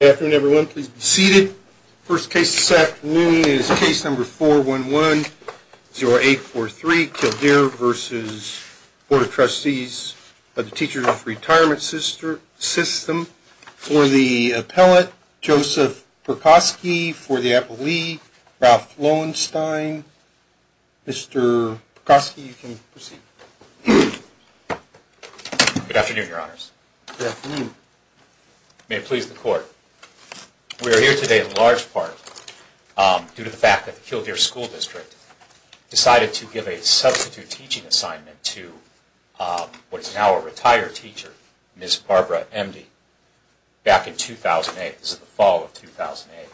Good afternoon, everyone. Please be seated. First case this afternoon is case number 411-0843, Kildeer v. Board of Trustees of the Teachers of Retirement System. For the appellate, Joseph Perkosky. For the appellee, Ralph Lowenstein. Mr. Perkosky, you can proceed. Good afternoon, Your Honors. May it please the Court. We are here today in large part due to the fact that the Kildeer School District decided to give a substitute teaching assignment to what is now a retired teacher, Ms. Barbara Emdy, back in 2008. This is the fall of 2008.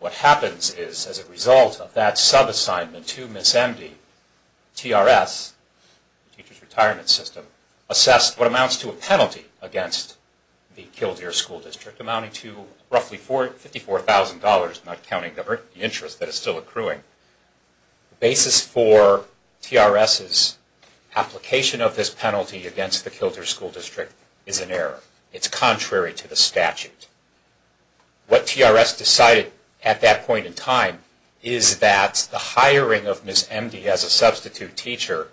What happens is, as a result of that sub-assignment to Ms. Emdy, TRS, Teachers Retirement System, assessed what amounts to a penalty against the Kildeer School District amounting to roughly $54,000, not counting the interest that is still accruing. The basis for TRS's application of this penalty against the Kildeer School District is an error. It's contrary to the statute. What TRS decided at that point in time is that the hiring of Ms. Emdy as a substitute teacher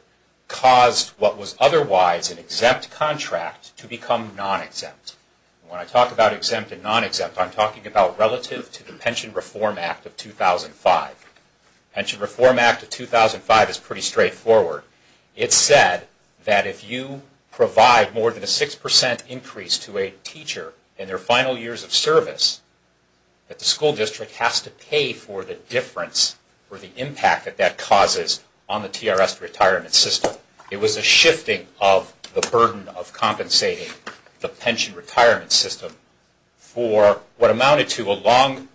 caused what was otherwise an exempt contract to become non-exempt. When I talk about exempt and non-exempt, I'm talking about relative to the Pension Reform Act of 2005. The Pension Reform Act of 2005 is pretty straightforward. It said that if you provide more than a 6% increase to a teacher in their final years of service, that the school district has to pay for the difference or the impact that that causes on the TRS retirement system. It was a shifting of the burden of compensating the pension retirement system for what amounted to a long,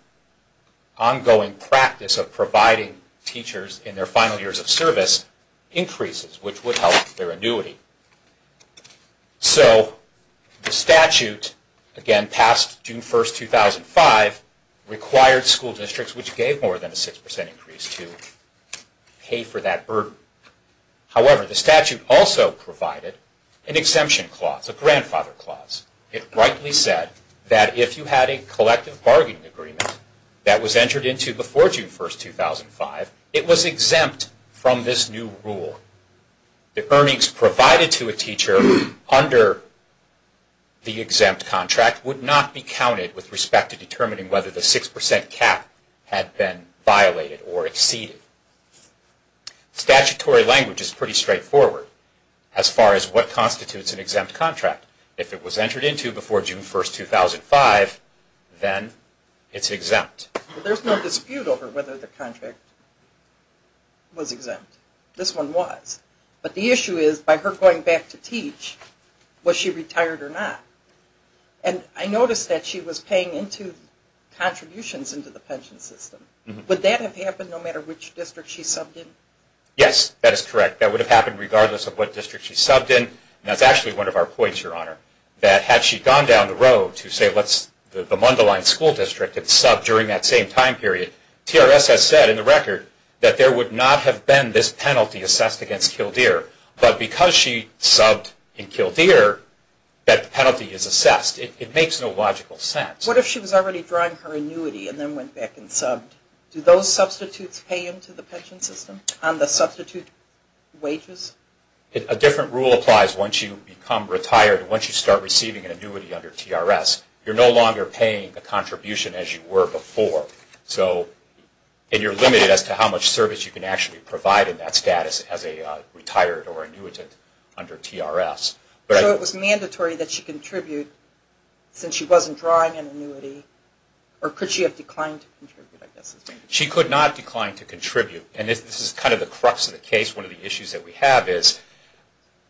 ongoing practice of providing teachers in their final years of service increases, which would help their annuity. So the statute, again past June 1, 2005, required school districts which gave more than a 6% increase to pay for that burden. However, the statute also provided an exemption clause, a grandfather clause. It rightly said that if you had a collective bargaining agreement that was entered into before June 1, 2005, it was exempt from this new rule. The earnings provided to a teacher under the exempt contract would not be counted with respect to determining whether the 6% cap had been violated or exceeded. Statutory language is pretty straightforward as far as what constitutes an exempt contract. If it was entered into before June 1, 2005, then it's exempt. There's no dispute over whether the contract was exempt. This one was. But the issue is, by her going back to teach, was she retired or not? And I noticed that she was paying contributions into the pension system. Would that have happened no matter which district she subbed in? Yes, that is correct. That would have happened regardless of what district she subbed in. That's actually one of our points, Your Honor, that had she gone down the road to, say, the Mundelein School District and subbed during that same time period, TRS has said in the record that there would not have been this penalty assessed against Kildare. But because she subbed in Kildare, that penalty is assessed. It makes no logical sense. What if she was already drawing her annuity and then went back and subbed? Do those substitutes pay into the pension system on the substitute wages? A different rule applies once you become retired. Once you start receiving an annuity under TRS, you're no longer paying a contribution as you were before. And you're limited as to how much service you can actually provide in that status as a retired or annuitant under TRS. So it was mandatory that she contribute since she wasn't drawing an annuity? Or could she have declined to contribute? She could not decline to contribute. And this is kind of the crux of the case. One of the issues that we have is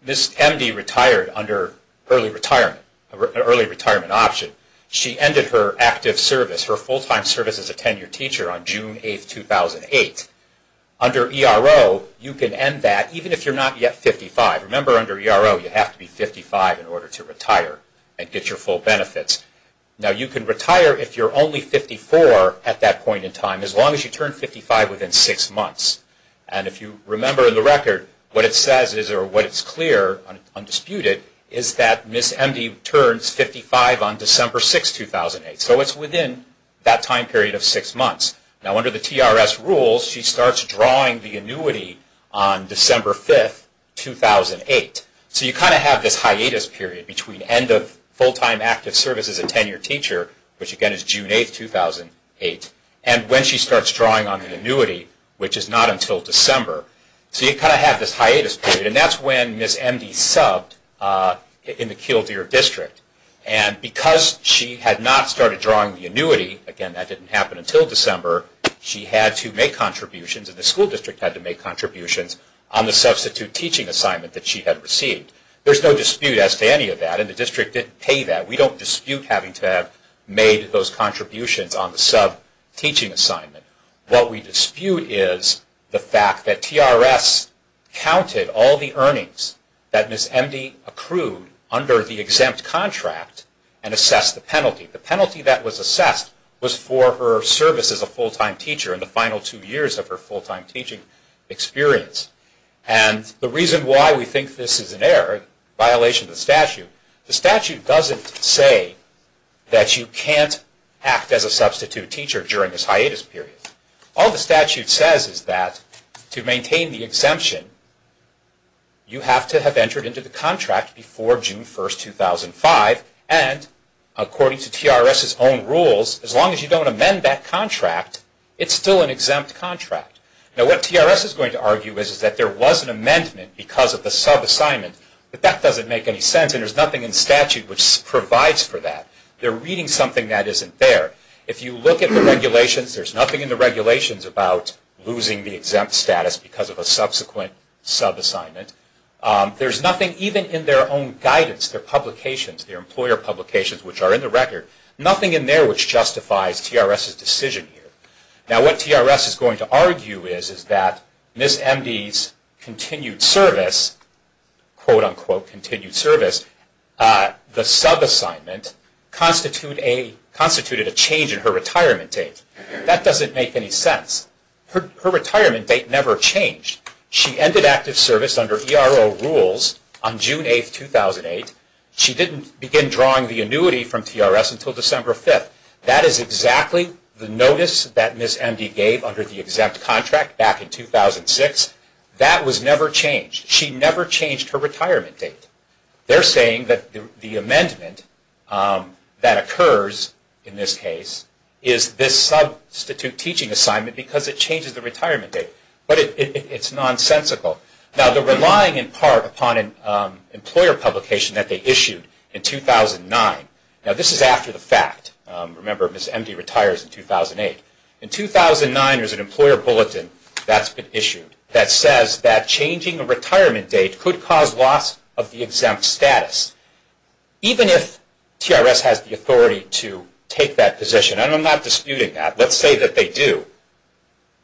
Ms. Emdy retired under early retirement, an early retirement option. She ended her active service, her full-time service as a tenured teacher, on June 8, 2008. Under ERO, you can end that even if you're not yet 55. Remember under ERO, you have to be 55 in order to retire and get your full benefits. Now you can retire if you're only 54 at that point in time as long as you turn 55 within six months. And if you remember in the record, what it says is, or what it's clear, undisputed, is that Ms. Emdy turns 55 on December 6, 2008. So it's within that time period of six months. Now under the TRS rules, she starts drawing the annuity on December 5, 2008. So you kind of have this hiatus period between end of full-time active service as a tenured teacher, which again is June 8, 2008, and when she starts drawing on the annuity, which is not until December. So you kind of have this hiatus period, and that's when Ms. Emdy subbed in the Kildare District. And because she had not started drawing the annuity, again that didn't happen until December, she had to make contributions, and the school district had to make contributions on the substitute teaching assignment that she had received. There's no dispute as to any of that, and the district didn't pay that. We don't dispute having to have made those contributions on the sub teaching assignment. What we dispute is the fact that TRS counted all the earnings that Ms. Emdy accrued under the exempt contract and assessed the penalty. The penalty that was assessed was for her service as a full-time teacher in the final two years of her full-time teaching experience. And the reason why we think this is an error, violation of the statute, the statute doesn't say that you can't act as a substitute teacher during this hiatus period. All the statute says is that to maintain the exemption, you have to have entered into the contract before June 1, 2005, and according to TRS's own rules, as long as you don't amend that contract, it's still an exempt contract. Now what TRS is going to argue is that there was an amendment because of the sub assignment, but that doesn't make any sense and there's nothing in statute which provides for that. They're reading something that isn't there. If you look at the regulations, there's nothing in the regulations about losing the exempt status because of a subsequent sub assignment. There's nothing even in their own guidance, their publications, their employer publications, which are in the record, nothing in there which justifies TRS's decision here. Now what TRS is going to argue is that Ms. Emdy's continued service, quote-unquote continued service, the sub assignment constituted a change in her retirement date. That doesn't make any sense. Her retirement date never changed. She ended active service under ERO rules on June 8, 2008. She didn't begin drawing the annuity from TRS until December 5. That is exactly the notice that Ms. Emdy gave under the exempt contract back in 2006. That was never changed. She never changed her retirement date. They're saying that the amendment that occurs in this case is this substitute teaching assignment because it changes the retirement date, but it's nonsensical. Now they're relying in part upon an employer publication that they issued in 2009. Now this is after the fact. Remember Ms. Emdy retires in 2008. In 2009 there's an employer bulletin that's been issued that says that changing a retirement date could cause loss of the exempt status. Even if TRS has the authority to take that position, and I'm not disputing that, let's say that they do,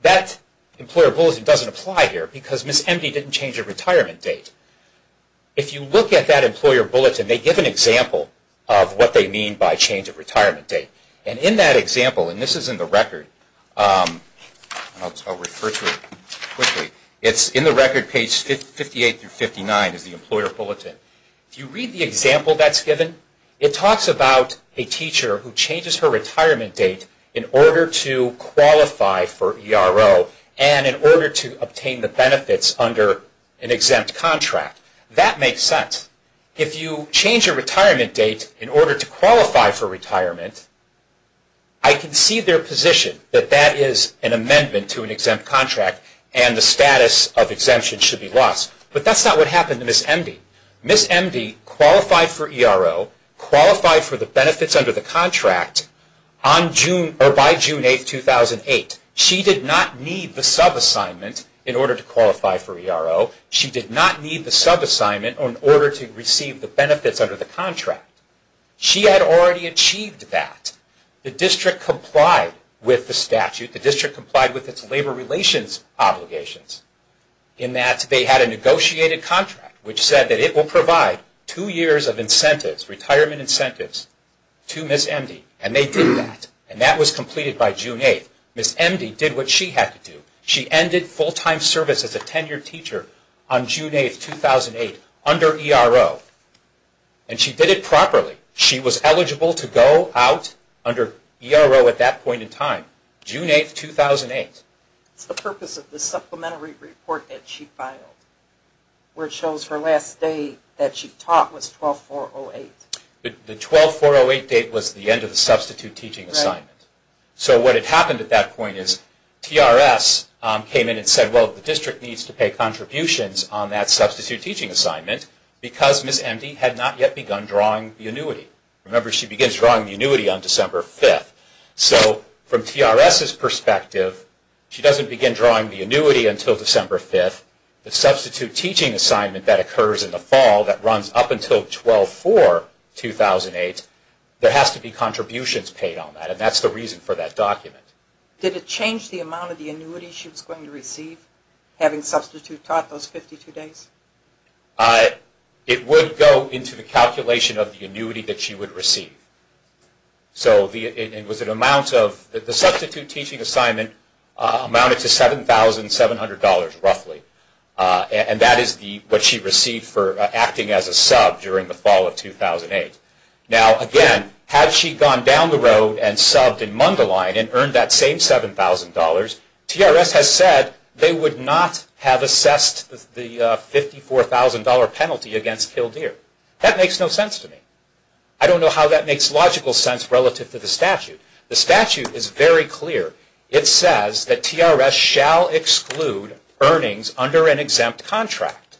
that employer bulletin doesn't apply here because Ms. Emdy didn't change her retirement date. If you look at that employer bulletin, they give an example of what they mean by change of retirement date. In that example, and this is in the record, I'll refer to it quickly, it's in the record page 58-59 is the employer bulletin. If you read the example that's given, it talks about a teacher who changes her retirement date in order to qualify for ERO and in order to obtain the benefits under an exempt contract. That makes sense. If you change your retirement date in order to qualify for retirement, I can see their position that that is an amendment to an exempt contract and the status of exemption should be lost. But that's not what happened to Ms. Emdy. Ms. Emdy qualified for ERO, qualified for the benefits under the contract by June 8, 2008. She did not need the subassignment in order to qualify for ERO. She did not need the subassignment in order to receive the benefits under the contract. She had already achieved that. The district complied with the statute. The district complied with its labor relations obligations in that they had a negotiated contract which said that it will provide two years of incentives, retirement incentives, to Ms. Emdy. And they did that. And that was completed by June 8. Ms. Emdy did what she had to do. She ended full-time service as a tenured teacher. On June 8, 2008, under ERO. And she did it properly. She was eligible to go out under ERO at that point in time. June 8, 2008. It's the purpose of the supplementary report that she filed, where it shows her last day that she taught was 12-4-08. The 12-4-08 date was the end of the substitute teaching assignment. So what had happened at that point is TRS came in and said, well, the district needs to pay contributions on that substitute teaching assignment because Ms. Emdy had not yet begun drawing the annuity. Remember, she begins drawing the annuity on December 5. So from TRS's perspective, she doesn't begin drawing the annuity until December 5. The substitute teaching assignment that occurs in the fall that runs up until 12-4-2008, there has to be contributions paid on that. And that's the reason for that document. Did it change the amount of the annuity she was going to receive, having substitute taught those 52 days? It would go into the calculation of the annuity that she would receive. The substitute teaching assignment amounted to $7,700 roughly. And that is what she received for acting as a sub during the fall of 2008. Now, again, had she gone down the road and subbed in Mundelein and earned that same $7,000, TRS has said they would not have assessed the $54,000 penalty against Kildare. That makes no sense to me. I don't know how that makes logical sense relative to the statute. The statute is very clear. It says that TRS shall exclude earnings under an exempt contract.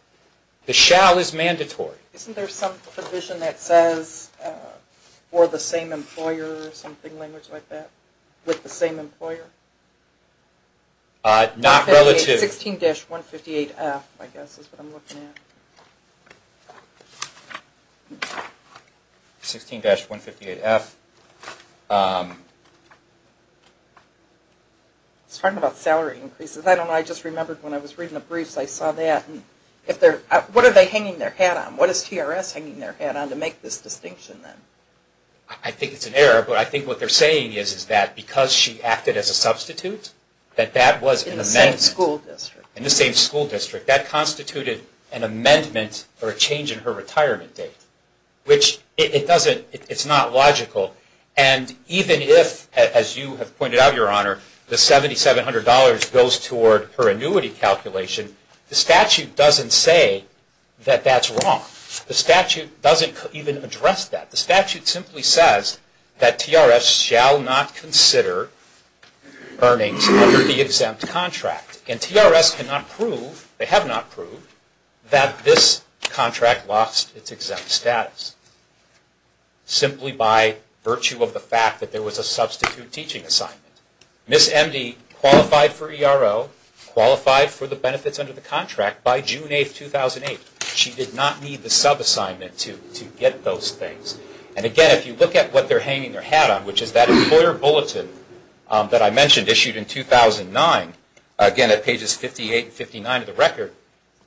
The shall is mandatory. Isn't there some provision that says for the same employer or something like that, with the same employer? Not relative. 16-158F I guess is what I'm looking at. 16-158F. I was talking about salary increases. I don't know. I just remembered when I was reading the briefs I saw that. What are they hanging their hat on? What is TRS hanging their hat on to make this distinction then? I think it's an error, but I think what they're saying is that because she acted as a substitute, that that was an amendment. In the same school district. That constituted an amendment or a change in her retirement date, which it's not logical. And even if, as you have pointed out, Your Honor, the $7,700 goes toward her annuity calculation, the statute doesn't say that that's wrong. The statute doesn't even address that. The statute simply says that TRS shall not consider earnings under the exempt contract. And TRS cannot prove, they have not proved, that this contract lost its exempt status. Simply by virtue of the fact that there was a substitute teaching assignment. Ms. Emdy qualified for ERO, qualified for the benefits under the contract by June 8, 2008. She did not need the sub-assignment to get those things. And again, if you look at what they're hanging their hat on, which is that employer bulletin that I mentioned issued in 2009. Again, at pages 58 and 59 of the record.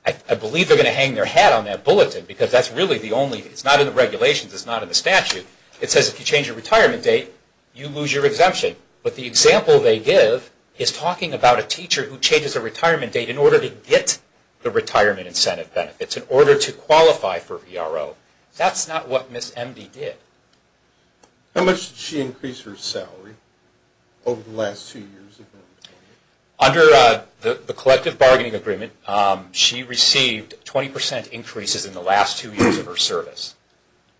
I believe they're going to hang their hat on that bulletin because that's really the only, it's not in the regulations, it's not in the statute. It says if you change your retirement date, you lose your exemption. But the example they give is talking about a teacher who changes her retirement date in order to get the retirement incentive benefits, in order to qualify for ERO. That's not what Ms. Emdy did. How much did she increase her salary over the last two years? Under the collective bargaining agreement, she received 20% increases in the last two years of her service.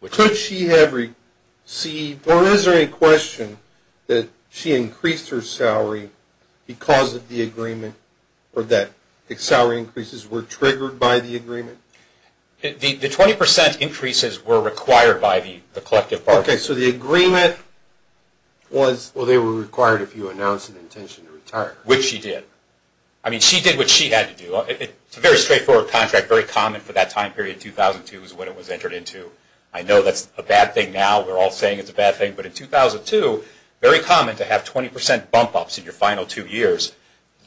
Could she have received, or is there any question that she increased her salary because of the agreement, or that the salary increases were triggered by the agreement? The 20% increases were required by the collective bargaining agreement. Okay, so the agreement was, well, they were required if you announced an intention to retire. Which she did. I mean, she did what she had to do. It's a very straightforward contract, very common for that time period. 2002 is when it was entered into. I know that's a bad thing now. We're all saying it's a bad thing. But in 2002, very common to have 20% bump-ups in your final two years.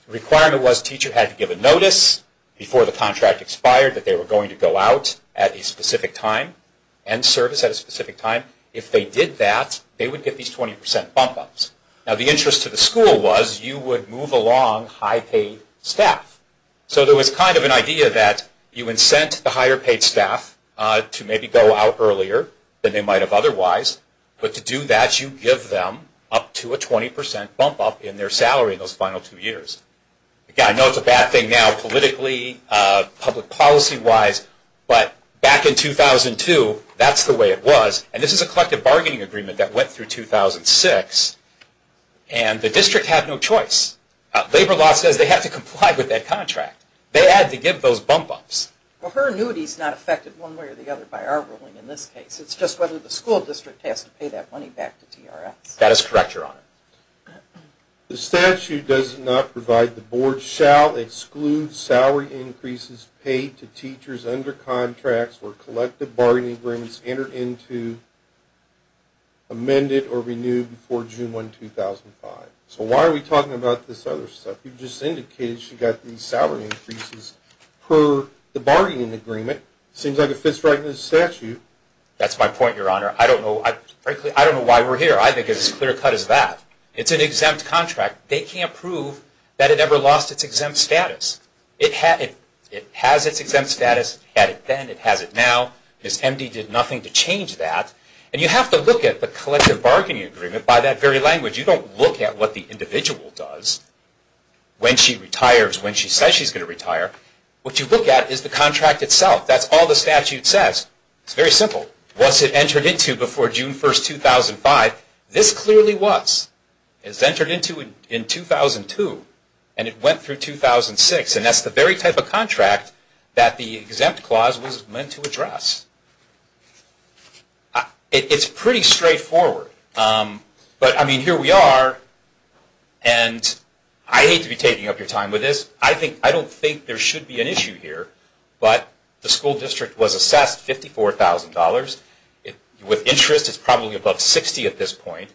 The requirement was the teacher had to give a notice before the contract expired that they were going to go out at a specific time and service at a specific time. If they did that, they would get these 20% bump-ups. Now, the interest to the school was you would move along high-paid staff. So there was kind of an idea that you incent the higher-paid staff to maybe go out earlier than they might have otherwise. But to do that, you give them up to a 20% bump-up in their salary in those final two years. Again, I know it's a bad thing now politically, public policy-wise. But back in 2002, that's the way it was. And this is a collective bargaining agreement that went through 2006. And the district had no choice. Labor law says they have to comply with that contract. They had to give those bump-ups. Well, her annuity is not affected one way or the other by our ruling in this case. It's just whether the school district has to pay that money back to TRS. That is correct, Your Honor. The statute does not provide the board shall exclude salary increases paid to teachers under contracts where collective bargaining agreements entered into, amended, or renewed before June 1, 2005. So why are we talking about this other stuff? You've just indicated she got these salary increases per the bargaining agreement. It seems like it fits right into the statute. That's my point, Your Honor. Frankly, I don't know why we're here. I think it's as clear-cut as that. It's an exempt contract. They can't prove that it ever lost its exempt status. It has its exempt status. It had it then. It has it now. Ms. Emdy did nothing to change that. And you have to look at the collective bargaining agreement by that very language. You don't look at what the individual does when she retires, when she says she's going to retire. What you look at is the contract itself. That's all the statute says. It's very simple. Was it entered into before June 1, 2005? This clearly was. It was entered into in 2002. And it went through 2006. And that's the very type of contract that the exempt clause was meant to address. It's pretty straightforward. But, I mean, here we are. And I hate to be taking up your time with this. I don't think there should be an issue here. But the school district was assessed $54,000. With interest, it's probably above $60,000 at this point.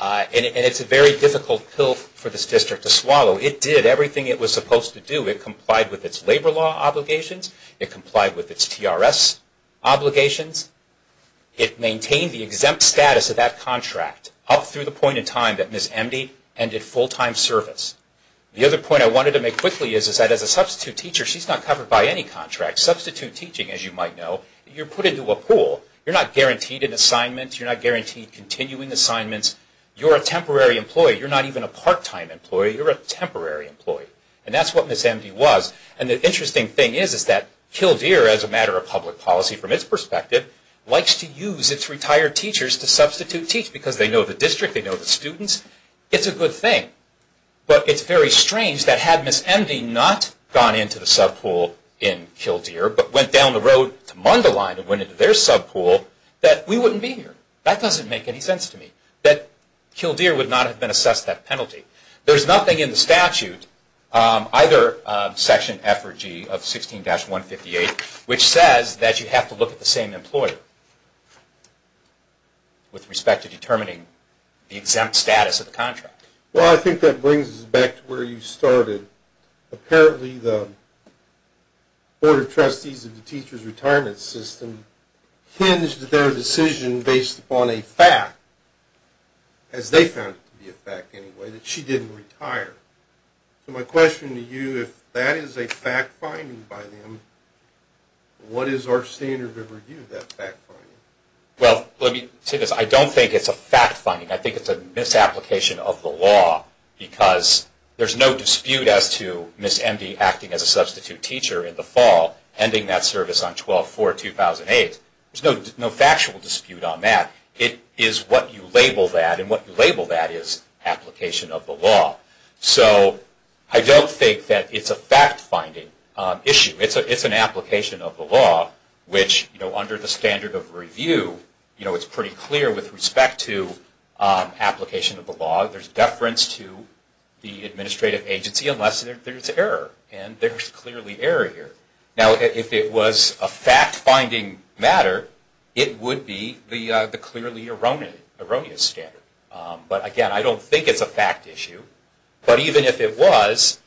And it's a very difficult pill for this district to swallow. It did everything it was supposed to do. It complied with its labor law obligations. It complied with its TRS obligations. It maintained the exempt status of that contract up through the point in time that Ms. Emdy ended full-time service. The other point I wanted to make quickly is that as a substitute teacher, she's not covered by any contract. Substitute teaching, as you might know, you're put into a pool. You're not guaranteed an assignment. You're not guaranteed continuing assignments. You're a temporary employee. You're not even a part-time employee. You're a temporary employee. And that's what Ms. Emdy was. And the interesting thing is that Kildare, as a matter of public policy from its perspective, likes to use its retired teachers to substitute teach because they know the district. They know the students. It's a good thing. But it's very strange that had Ms. Emdy not gone into the sub pool in Kildare but went down the road to Mundelein and went into their sub pool, that we wouldn't be here. That doesn't make any sense to me, that Kildare would not have been assessed that penalty. There's nothing in the statute, either Section F or G of 16-158, which says that you have to look at the same employer with respect to determining the exempt status of the contract. Well, I think that brings us back to where you started. Apparently the Board of Trustees of the Teachers Retirement System hinged their decision based upon a fact, as they found it to be a fact anyway, that she didn't retire. So my question to you, if that is a fact finding by them, what is our standard of review of that fact finding? Well, let me say this. I don't think it's a fact finding. I think it's a misapplication of the law, because there's no dispute as to Ms. Emdy acting as a substitute teacher in the fall, ending that service on 12-4-2008. There's no factual dispute on that. It is what you label that, and what you label that is application of the law. So I don't think that it's a fact finding issue. It's an application of the law, which under the standard of review, it's pretty clear with respect to application of the law. There's deference to the administrative agency, unless there's error. And there's clearly error here. Now, if it was a fact finding matter, it would be the clearly erroneous standard. But again, I don't think it's a fact issue. But even if it was,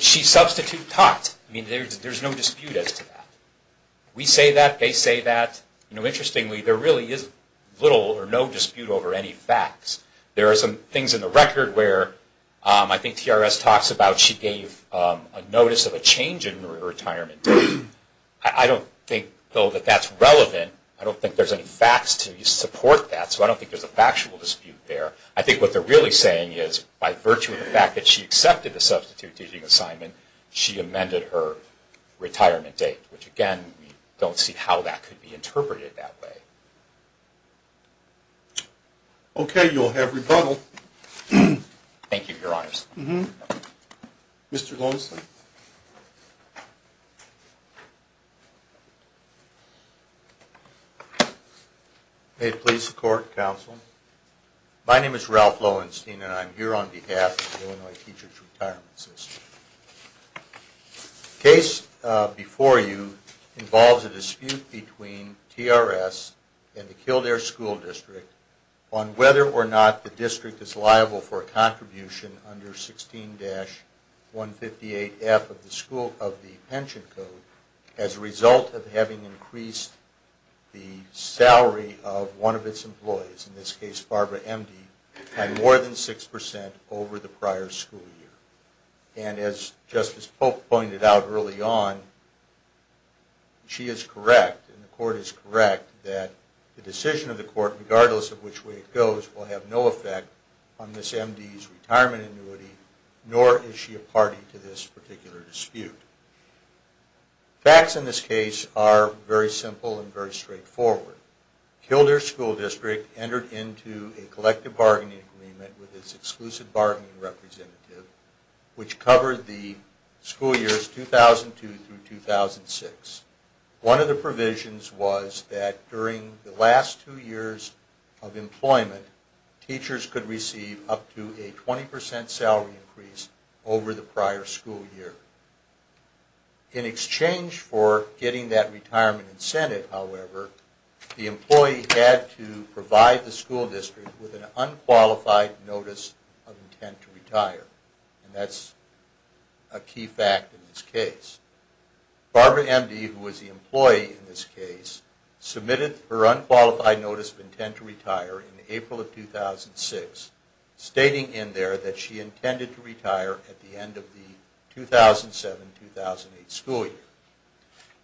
she's substitute taught. I mean, there's no dispute as to that. We say that. They say that. Interestingly, there really is little or no dispute over any facts. There are some things in the record where I think TRS talks about she gave a notice of a change in her retirement date. I don't think, though, that that's relevant. I don't think there's any facts to support that. So I don't think there's a factual dispute there. I think what they're really saying is by virtue of the fact that she accepted the substitute teaching assignment, she amended her retirement date, which, again, we don't see how that could be interpreted that way. Okay. You'll have rebuttal. Thank you, Your Honors. Mr. Lonesley. May it please the Court and Counsel. My name is Ralph Lowenstein, and I'm here on behalf of the Illinois Teachers Retirement System. The case before you involves a dispute between TRS and the Kildare School District on whether or not the district is liable for a contribution under 16-158F of the School of the Pension Code as a result of having increased the salary of one of its employees, in this case Barbara Emdy, by more than 6% over the prior school year. And as Justice Pope pointed out early on, she is correct, and the Court is correct, that the decision of the Court, regardless of which way it goes, will have no effect on Ms. Emdy's retirement annuity, nor is she a party to this particular dispute. Facts in this case are very simple and very straightforward. Kildare School District entered into a collective bargaining agreement with its exclusive bargaining representative, which covered the school years 2002 through 2006. One of the provisions was that during the last two years of employment, teachers could receive up to a 20% salary increase over the prior school year. In exchange for getting that retirement incentive, however, the employee had to provide the school district with an unqualified notice of intent to retire. Barbara Emdy, who was the employee in this case, submitted her unqualified notice of intent to retire in April of 2006, stating in there that she intended to retire at the end of the 2007-2008 school year.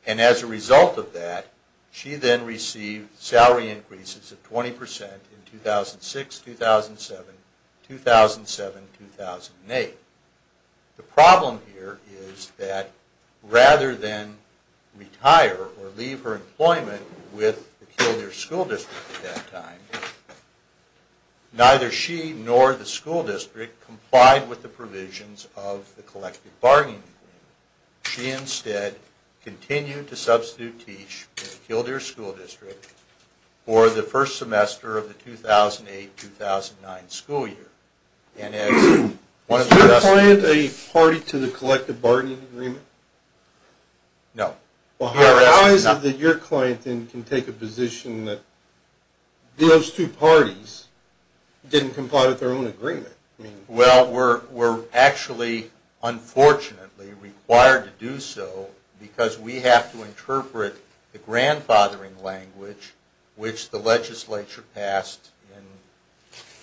And as a result of that, she then received salary increases of 20% in 2006-2007, 2007-2008. The problem here is that rather than retire or leave her employment with the Kildare School District at that time, neither she nor the school district complied with the provisions of the collective bargaining agreement. She instead continued to substitute teach at the Kildare School District for the first semester of the 2008-2009 school year. Is your client a party to the collective bargaining agreement? No. Well, how is it that your client then can take a position that those two parties didn't comply with their own agreement? Well, we're actually unfortunately required to do so because we have to interpret the grandfathering language which the legislature passed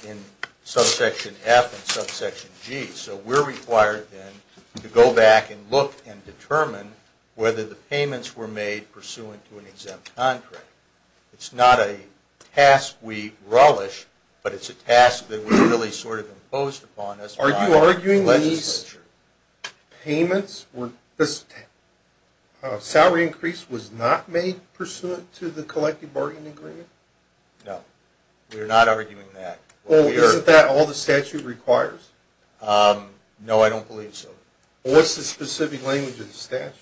in subsection F and subsection G. So we're required then to go back and look and determine whether the payments were made pursuant to an exempt contract. It's not a task we relish, but it's a task that was really sort of imposed upon us by the legislature. Salary increase was not made pursuant to the collective bargaining agreement? No. We're not arguing that. Well, isn't that all the statute requires? No, I don't believe so. What's the specific language of the statute?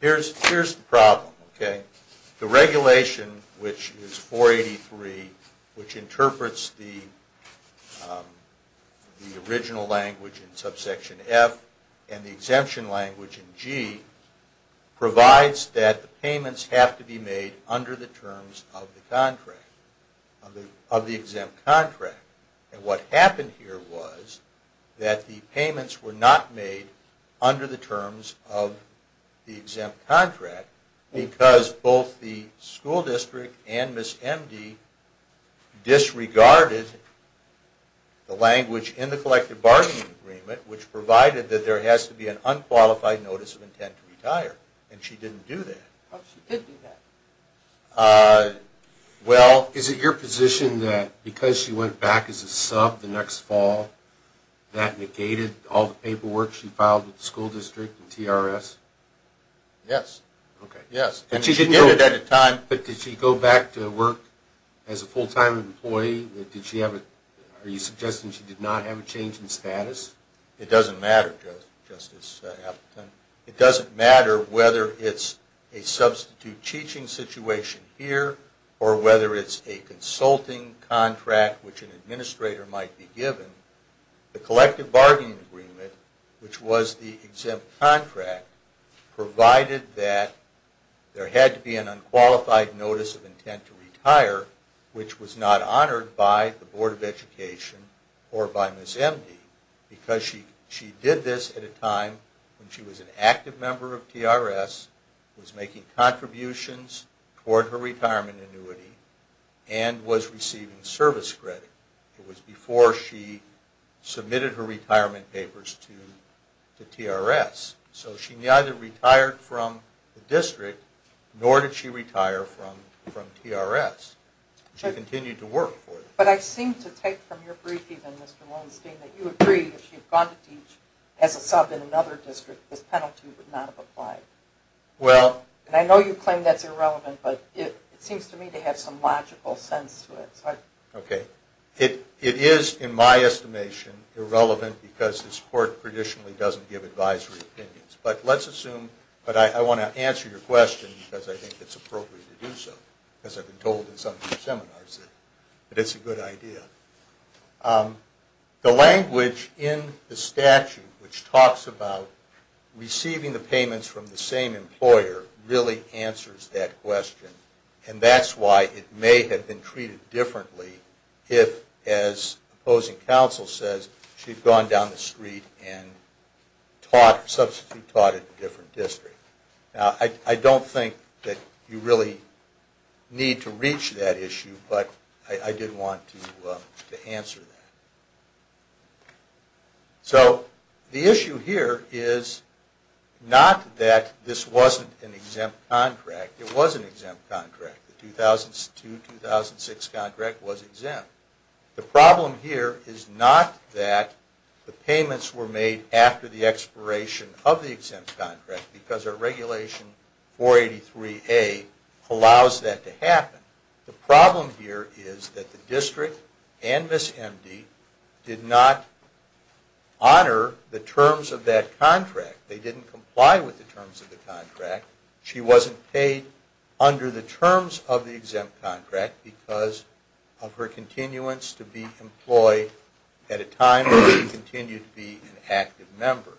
Here's the problem. The regulation, which is 483, which interprets the original language in subsection F and the exemption language in G, provides that the payments have to be made under the terms of the exempt contract. And what happened here was that the payments were not made under the terms of the exempt contract because both the school district and Ms. Emdy disregarded the language in the collective bargaining agreement which provided that there has to be an unqualified notice of intent to retire. And she didn't do that. Oh, she did do that. Well, is it your position that because she went back as a sub the next fall, that negated all the paperwork she filed with the school district and TRS? Yes. But did she go back to work as a full-time employee? Are you suggesting she did not have a change in status? It doesn't matter, Justice Appleton. It doesn't matter whether it's a substitute teaching situation here or whether it's a consulting contract which an administrator might be given. The collective bargaining agreement, which was the exempt contract, provided that there had to be an unqualified notice of intent to retire, which was not honored by the Board of Education or by Ms. Emdy because she did this at a time when she was an active member of TRS, was making contributions toward her retirement annuity, and was receiving service credit. It was before she submitted her retirement papers to TRS. So she neither retired from the district nor did she retire from TRS. She continued to work for them. But I seem to take from your brief even, Mr. Weinstein, that you agree that if she had gone to teach as a sub in another district, this penalty would not have applied. And I know you claim that's irrelevant, but it seems to me to have some logical sense to it. It is, in my estimation, irrelevant because this Court traditionally doesn't give advisory opinions. But I want to answer your question because I think it's appropriate to do so because I've been told in some of your seminars that it's a good idea. The language in the statute which talks about receiving the payments from the same employer really answers that question. And that's why it may have been treated differently if, as opposing counsel says, she'd gone down the street and taught, substitute taught, at a different district. I don't think that you really need to reach that issue, but I did want to answer that. So the issue here is not that this wasn't an exempt contract. It was an exempt contract. The 2002-2006 contract was exempt. The problem here is not that the payments were made after the expiration of the exempt contract because our Regulation 483A allows that to happen. The problem here is that the district and Ms. Emdy did not honor the terms of that contract. They didn't comply with the terms of the contract. She wasn't paid under the terms of the exempt contract because of her continuance to be employed at a time when she continued to be an active member.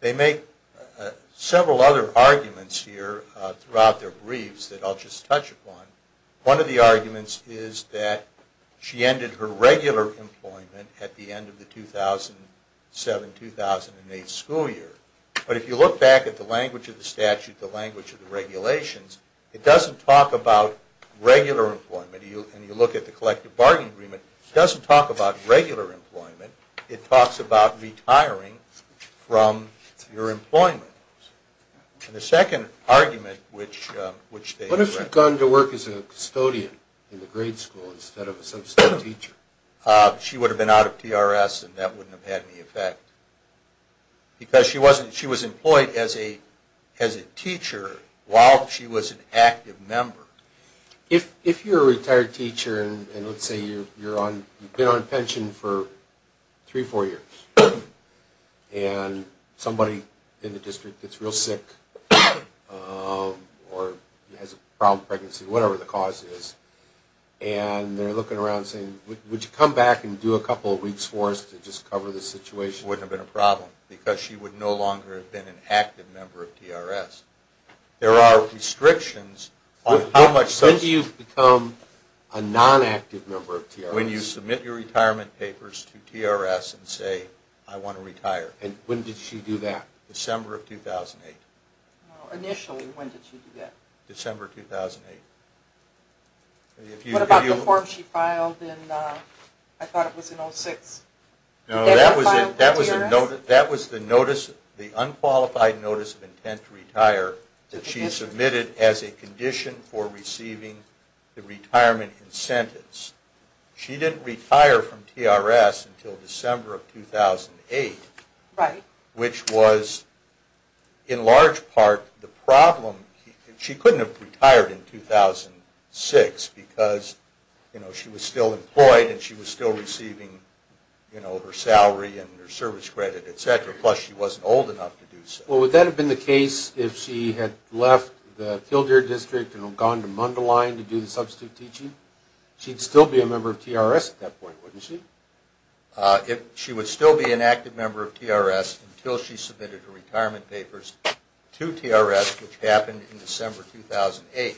They make several other arguments here throughout their briefs that I'll just touch upon. One of the arguments is that she ended her regular employment at the end of the 2007-2008 school year. But if you look back at the language of the statute, the language of the regulations, it doesn't talk about regular employment. And you look at the collective bargaining agreement, it doesn't talk about regular employment. It talks about retiring from your employment. And the second argument, which they- What if she had gone to work as a custodian in the grade school instead of a substitute teacher? She would have been out of TRS and that wouldn't have had any effect. Because she was employed as a teacher while she was an active member. If you're a retired teacher and let's say you've been on pension for three or four years and somebody in the district gets real sick or has a problem with pregnancy, whatever the cause is, and they're looking around saying, would you come back and do a couple of weeks for us to just cover the situation? It wouldn't have been a problem because she would no longer have been an active member of TRS. There are restrictions on how much- When do you become a non-active member of TRS? When you submit your retirement papers to TRS and say, I want to retire. And when did she do that? December of 2008. Initially, when did she do that? December 2008. What about the form she filed in, I thought it was in 06? No, that was the unqualified notice of intent to retire that she submitted as a condition for receiving the retirement incentives. She didn't retire from TRS until December of 2008, which was in large part the problem. She couldn't have retired in 2006 because she was still employed and she was still receiving her salary and her service credit, et cetera, plus she wasn't old enough to do so. Well, would that have been the case if she had left the Tildare District and gone to Mundelein to do the substitute teaching? She'd still be a member of TRS at that point, wouldn't she? She would still be an active member of TRS until she submitted her retirement papers to TRS, which happened in December 2008.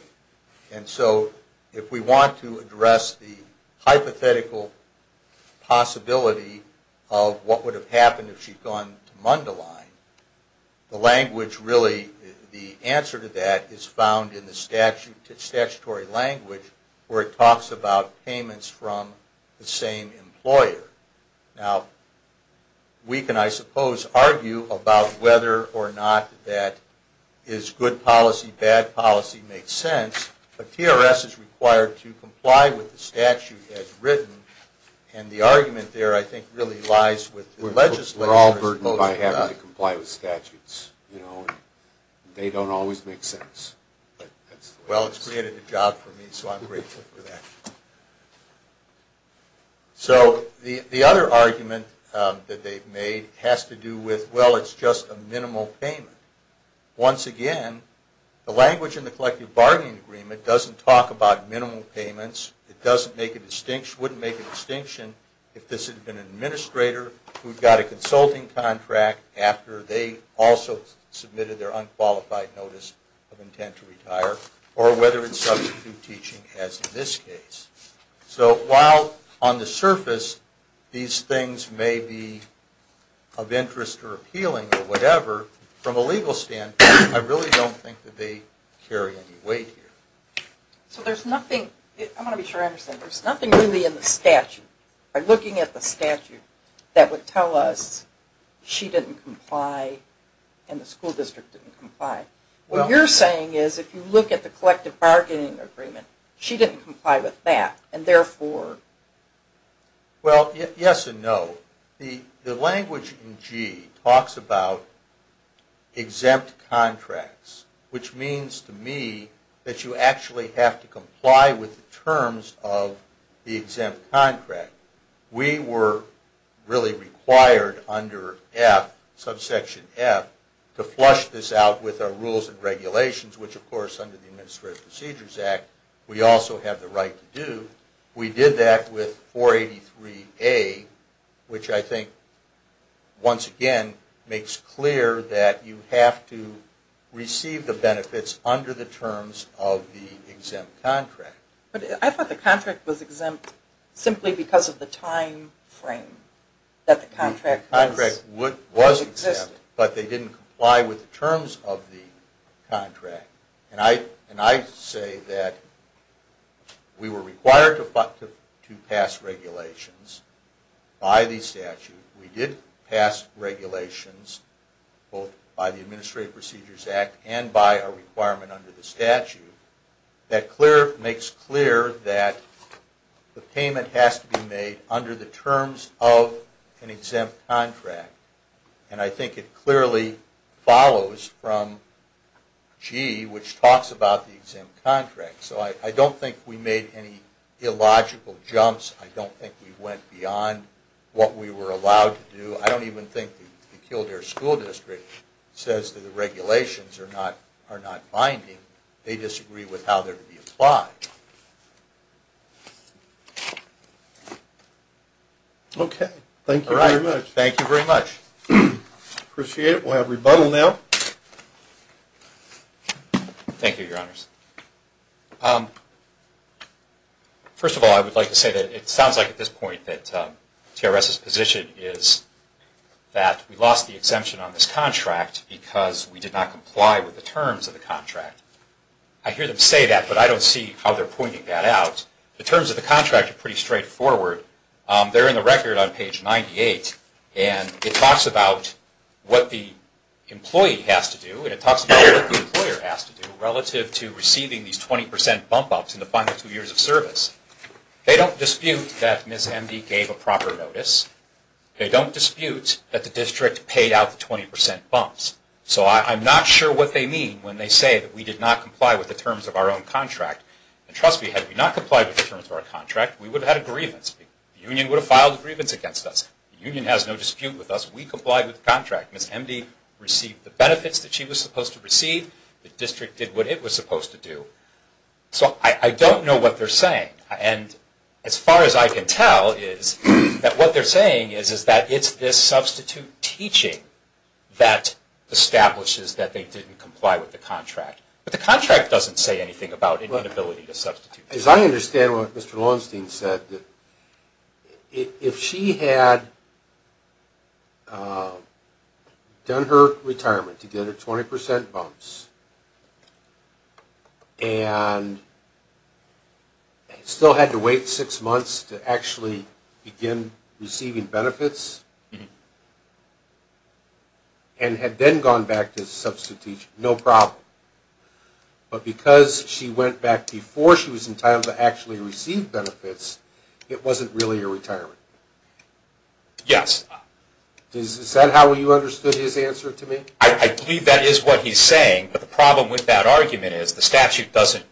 If we want to address the hypothetical possibility of what would have happened if she'd gone to Mundelein, the answer to that is found in the statutory language where it talks about payments from the same employer. Now, we can, I suppose, argue about whether or not that is good policy, bad policy, makes sense, but TRS is required to comply with the statute as written, and the argument there, I think, really lies with the legislature. We're all burdened by having to comply with statutes. They don't always make sense. Well, it's created a job for me, so I'm grateful for that. So, the other argument that they've made has to do with, well, it's just a minimal payment. Once again, the language in the collective bargaining agreement doesn't talk about minimal payments. It doesn't make a distinction, wouldn't make a distinction, if this had been an administrator who'd got a consulting contract after they also submitted their unqualified notice of intent to retire, or whether it's substitute teaching, as in this case. So, while on the surface, these things may be of interest or appealing or whatever, from a legal standpoint, I really don't think that they carry any weight here. So, there's nothing, I want to be sure I understand, there's nothing really in the statute, by looking at the statute, that would tell us she didn't comply and the school district didn't comply. What you're saying is, if you look at the collective bargaining agreement, she didn't comply with that, and therefore... Well, yes and no. The language in G talks about exempt contracts, which means to me that you actually have to comply with the terms of the exempt contract. We were really required under F, subsection F, to flush this out with our rules and regulations, which of course under the Administrative Procedures Act, we also have the right to do. We did that with 483A, which I think, once again, makes clear that you have to receive the benefits under the terms of the exempt contract. I thought the contract was exempt simply because of the time frame that the contract existed. The contract was exempt, but they didn't comply with the terms of the contract. And I say that we were required to pass regulations by the statute. We did pass regulations, both by the Administrative Procedures Act and by our requirement under the statute, that makes clear that the payment has to be made under the terms of an exempt contract. And I think it clearly follows from G, which talks about the exempt contract. So I don't think we made any illogical jumps. I don't think we went beyond what we were allowed to do. I don't even think the Kildare School District says that the regulations are not binding. They disagree with how they're to be applied. Okay. Thank you very much. All right. Thank you very much. Appreciate it. We'll have rebuttal now. Thank you, Your Honors. First of all, I would like to say that it sounds like at this point that TRS's position is that we lost the exemption on this contract because we did not comply with the terms of the contract. I hear them say that, but I don't see how they're pointing that out. The terms of the contract are pretty straightforward. They're in the record on page 98, and it talks about what the employee has to do and it talks about what the employer has to do relative to receiving these 20% bump-ups in the final two years of service. They don't dispute that Ms. Emby gave a proper notice. They don't dispute that the district paid out the 20% bumps. So I'm not sure what they mean when they say that we did not comply with the terms of our own contract. And trust me, had we not complied with the terms of our contract, we would have had a grievance. The union would have filed a grievance against us. The union has no dispute with us. We complied with the contract. Ms. Emby received the benefits that she was supposed to receive. The district did what it was supposed to do. So I don't know what they're saying. As far as I can tell, what they're saying is that it's this substitute teaching that establishes that they didn't comply with the contract. But the contract doesn't say anything about an inability to substitute. As I understand what Mr. Lowenstein said, if she had done her retirement to get her 20% bumps and still had to wait six months to actually begin receiving benefits and had then gone back to substitute teaching, no problem. But because she went back before she was entitled to actually receive benefits, it wasn't really a retirement. Yes. Is that how you understood his answer to me? I believe that is what he's saying. But the problem with that argument is the statute doesn't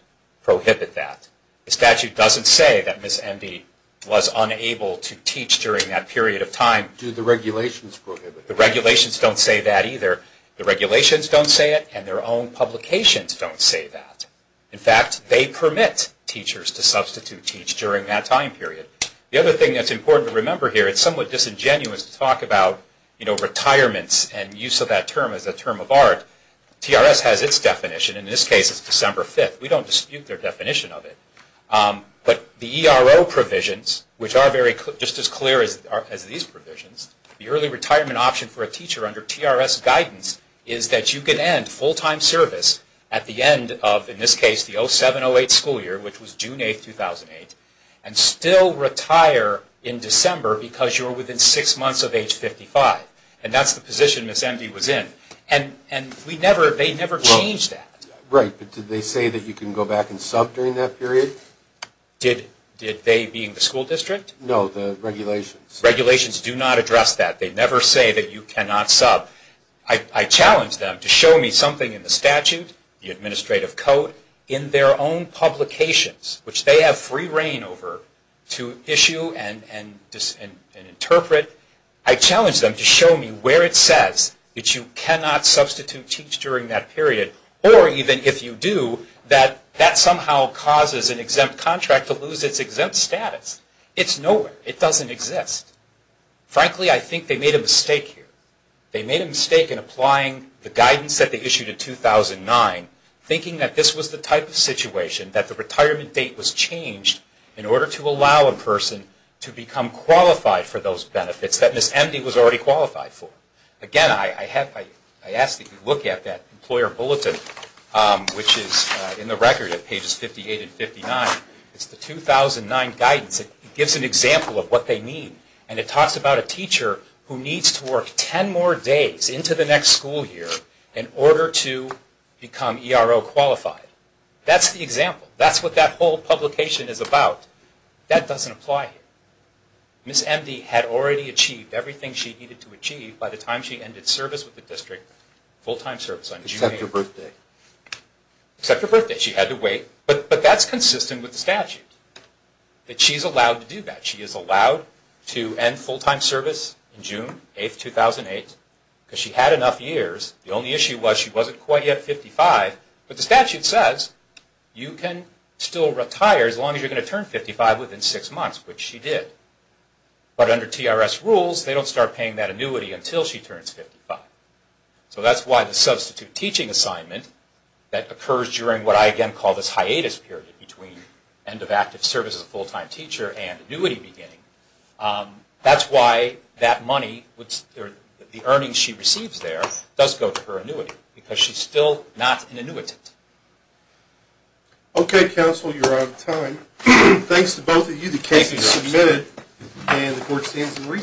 prohibit that. The statute doesn't say that Ms. Emby was unable to teach during that period of time. Do the regulations prohibit it? The regulations don't say that either. The regulations don't say it and their own publications don't say that. In fact, they permit teachers to substitute teach during that time period. The other thing that's important to remember here, it's somewhat disingenuous to talk about retirements and use of that term as a term of art. TRS has its definition. In this case, it's December 5th. We don't dispute their definition of it. But the ERO provisions, which are just as clear as these provisions, the early retirement option for a teacher under TRS guidance is that you can end full-time service at the end of, in this case, the 07-08 school year, which was June 8, 2008, and still retire in December because you were within six months of age 55. And that's the position Ms. Emby was in. And they never changed that. Right. But did they say that you can go back and sub during that period? Did they, being the school district? No, the regulations. Regulations do not address that. They never say that you cannot sub. I challenge them to show me something in the statute, the administrative code, in their own publications, which they have free reign over, to issue and interpret. I challenge them to show me where it says that you cannot substitute teach during that period, or even if you do, that that somehow causes an exempt contract to lose its exempt status. It's nowhere. It doesn't exist. Frankly, I think they made a mistake here. They made a mistake in applying the guidance that they issued in 2009, thinking that this was the type of situation that the retirement date was changed in order to allow a person to become qualified for those benefits that Ms. Emby was already qualified for. Again, I ask that you look at that employer bulletin, which is in the record at pages 58 and 59. It's the 2009 guidance. It gives an example of what they mean. And it talks about a teacher who needs to work ten more days into the next school year in order to become ERO qualified. That's the example. That's what that whole publication is about. That doesn't apply here. Ms. Emby had already achieved everything she needed to achieve by the time she ended service with the district, full-time service on June 8th. Except her birthday. Except her birthday. She had to wait. But that's consistent with the statute, that she's allowed to do that. She is allowed to end full-time service in June 8th, 2008, because she had enough years. The only issue was she wasn't quite yet 55. But the statute says you can still retire as long as you're going to turn 55 within six months, which she did. But under TRS rules, they don't start paying that annuity until she turns 55. So that's why the substitute teaching assignment that occurs during what I again call this hiatus period between end of active service as a full-time teacher and annuity beginning, that's why that money, the earnings she receives there, does go to her annuity. Because she's still not an annuitant. Okay, counsel. You're out of time. Thanks to both of you. The case is submitted and the court stands in recess.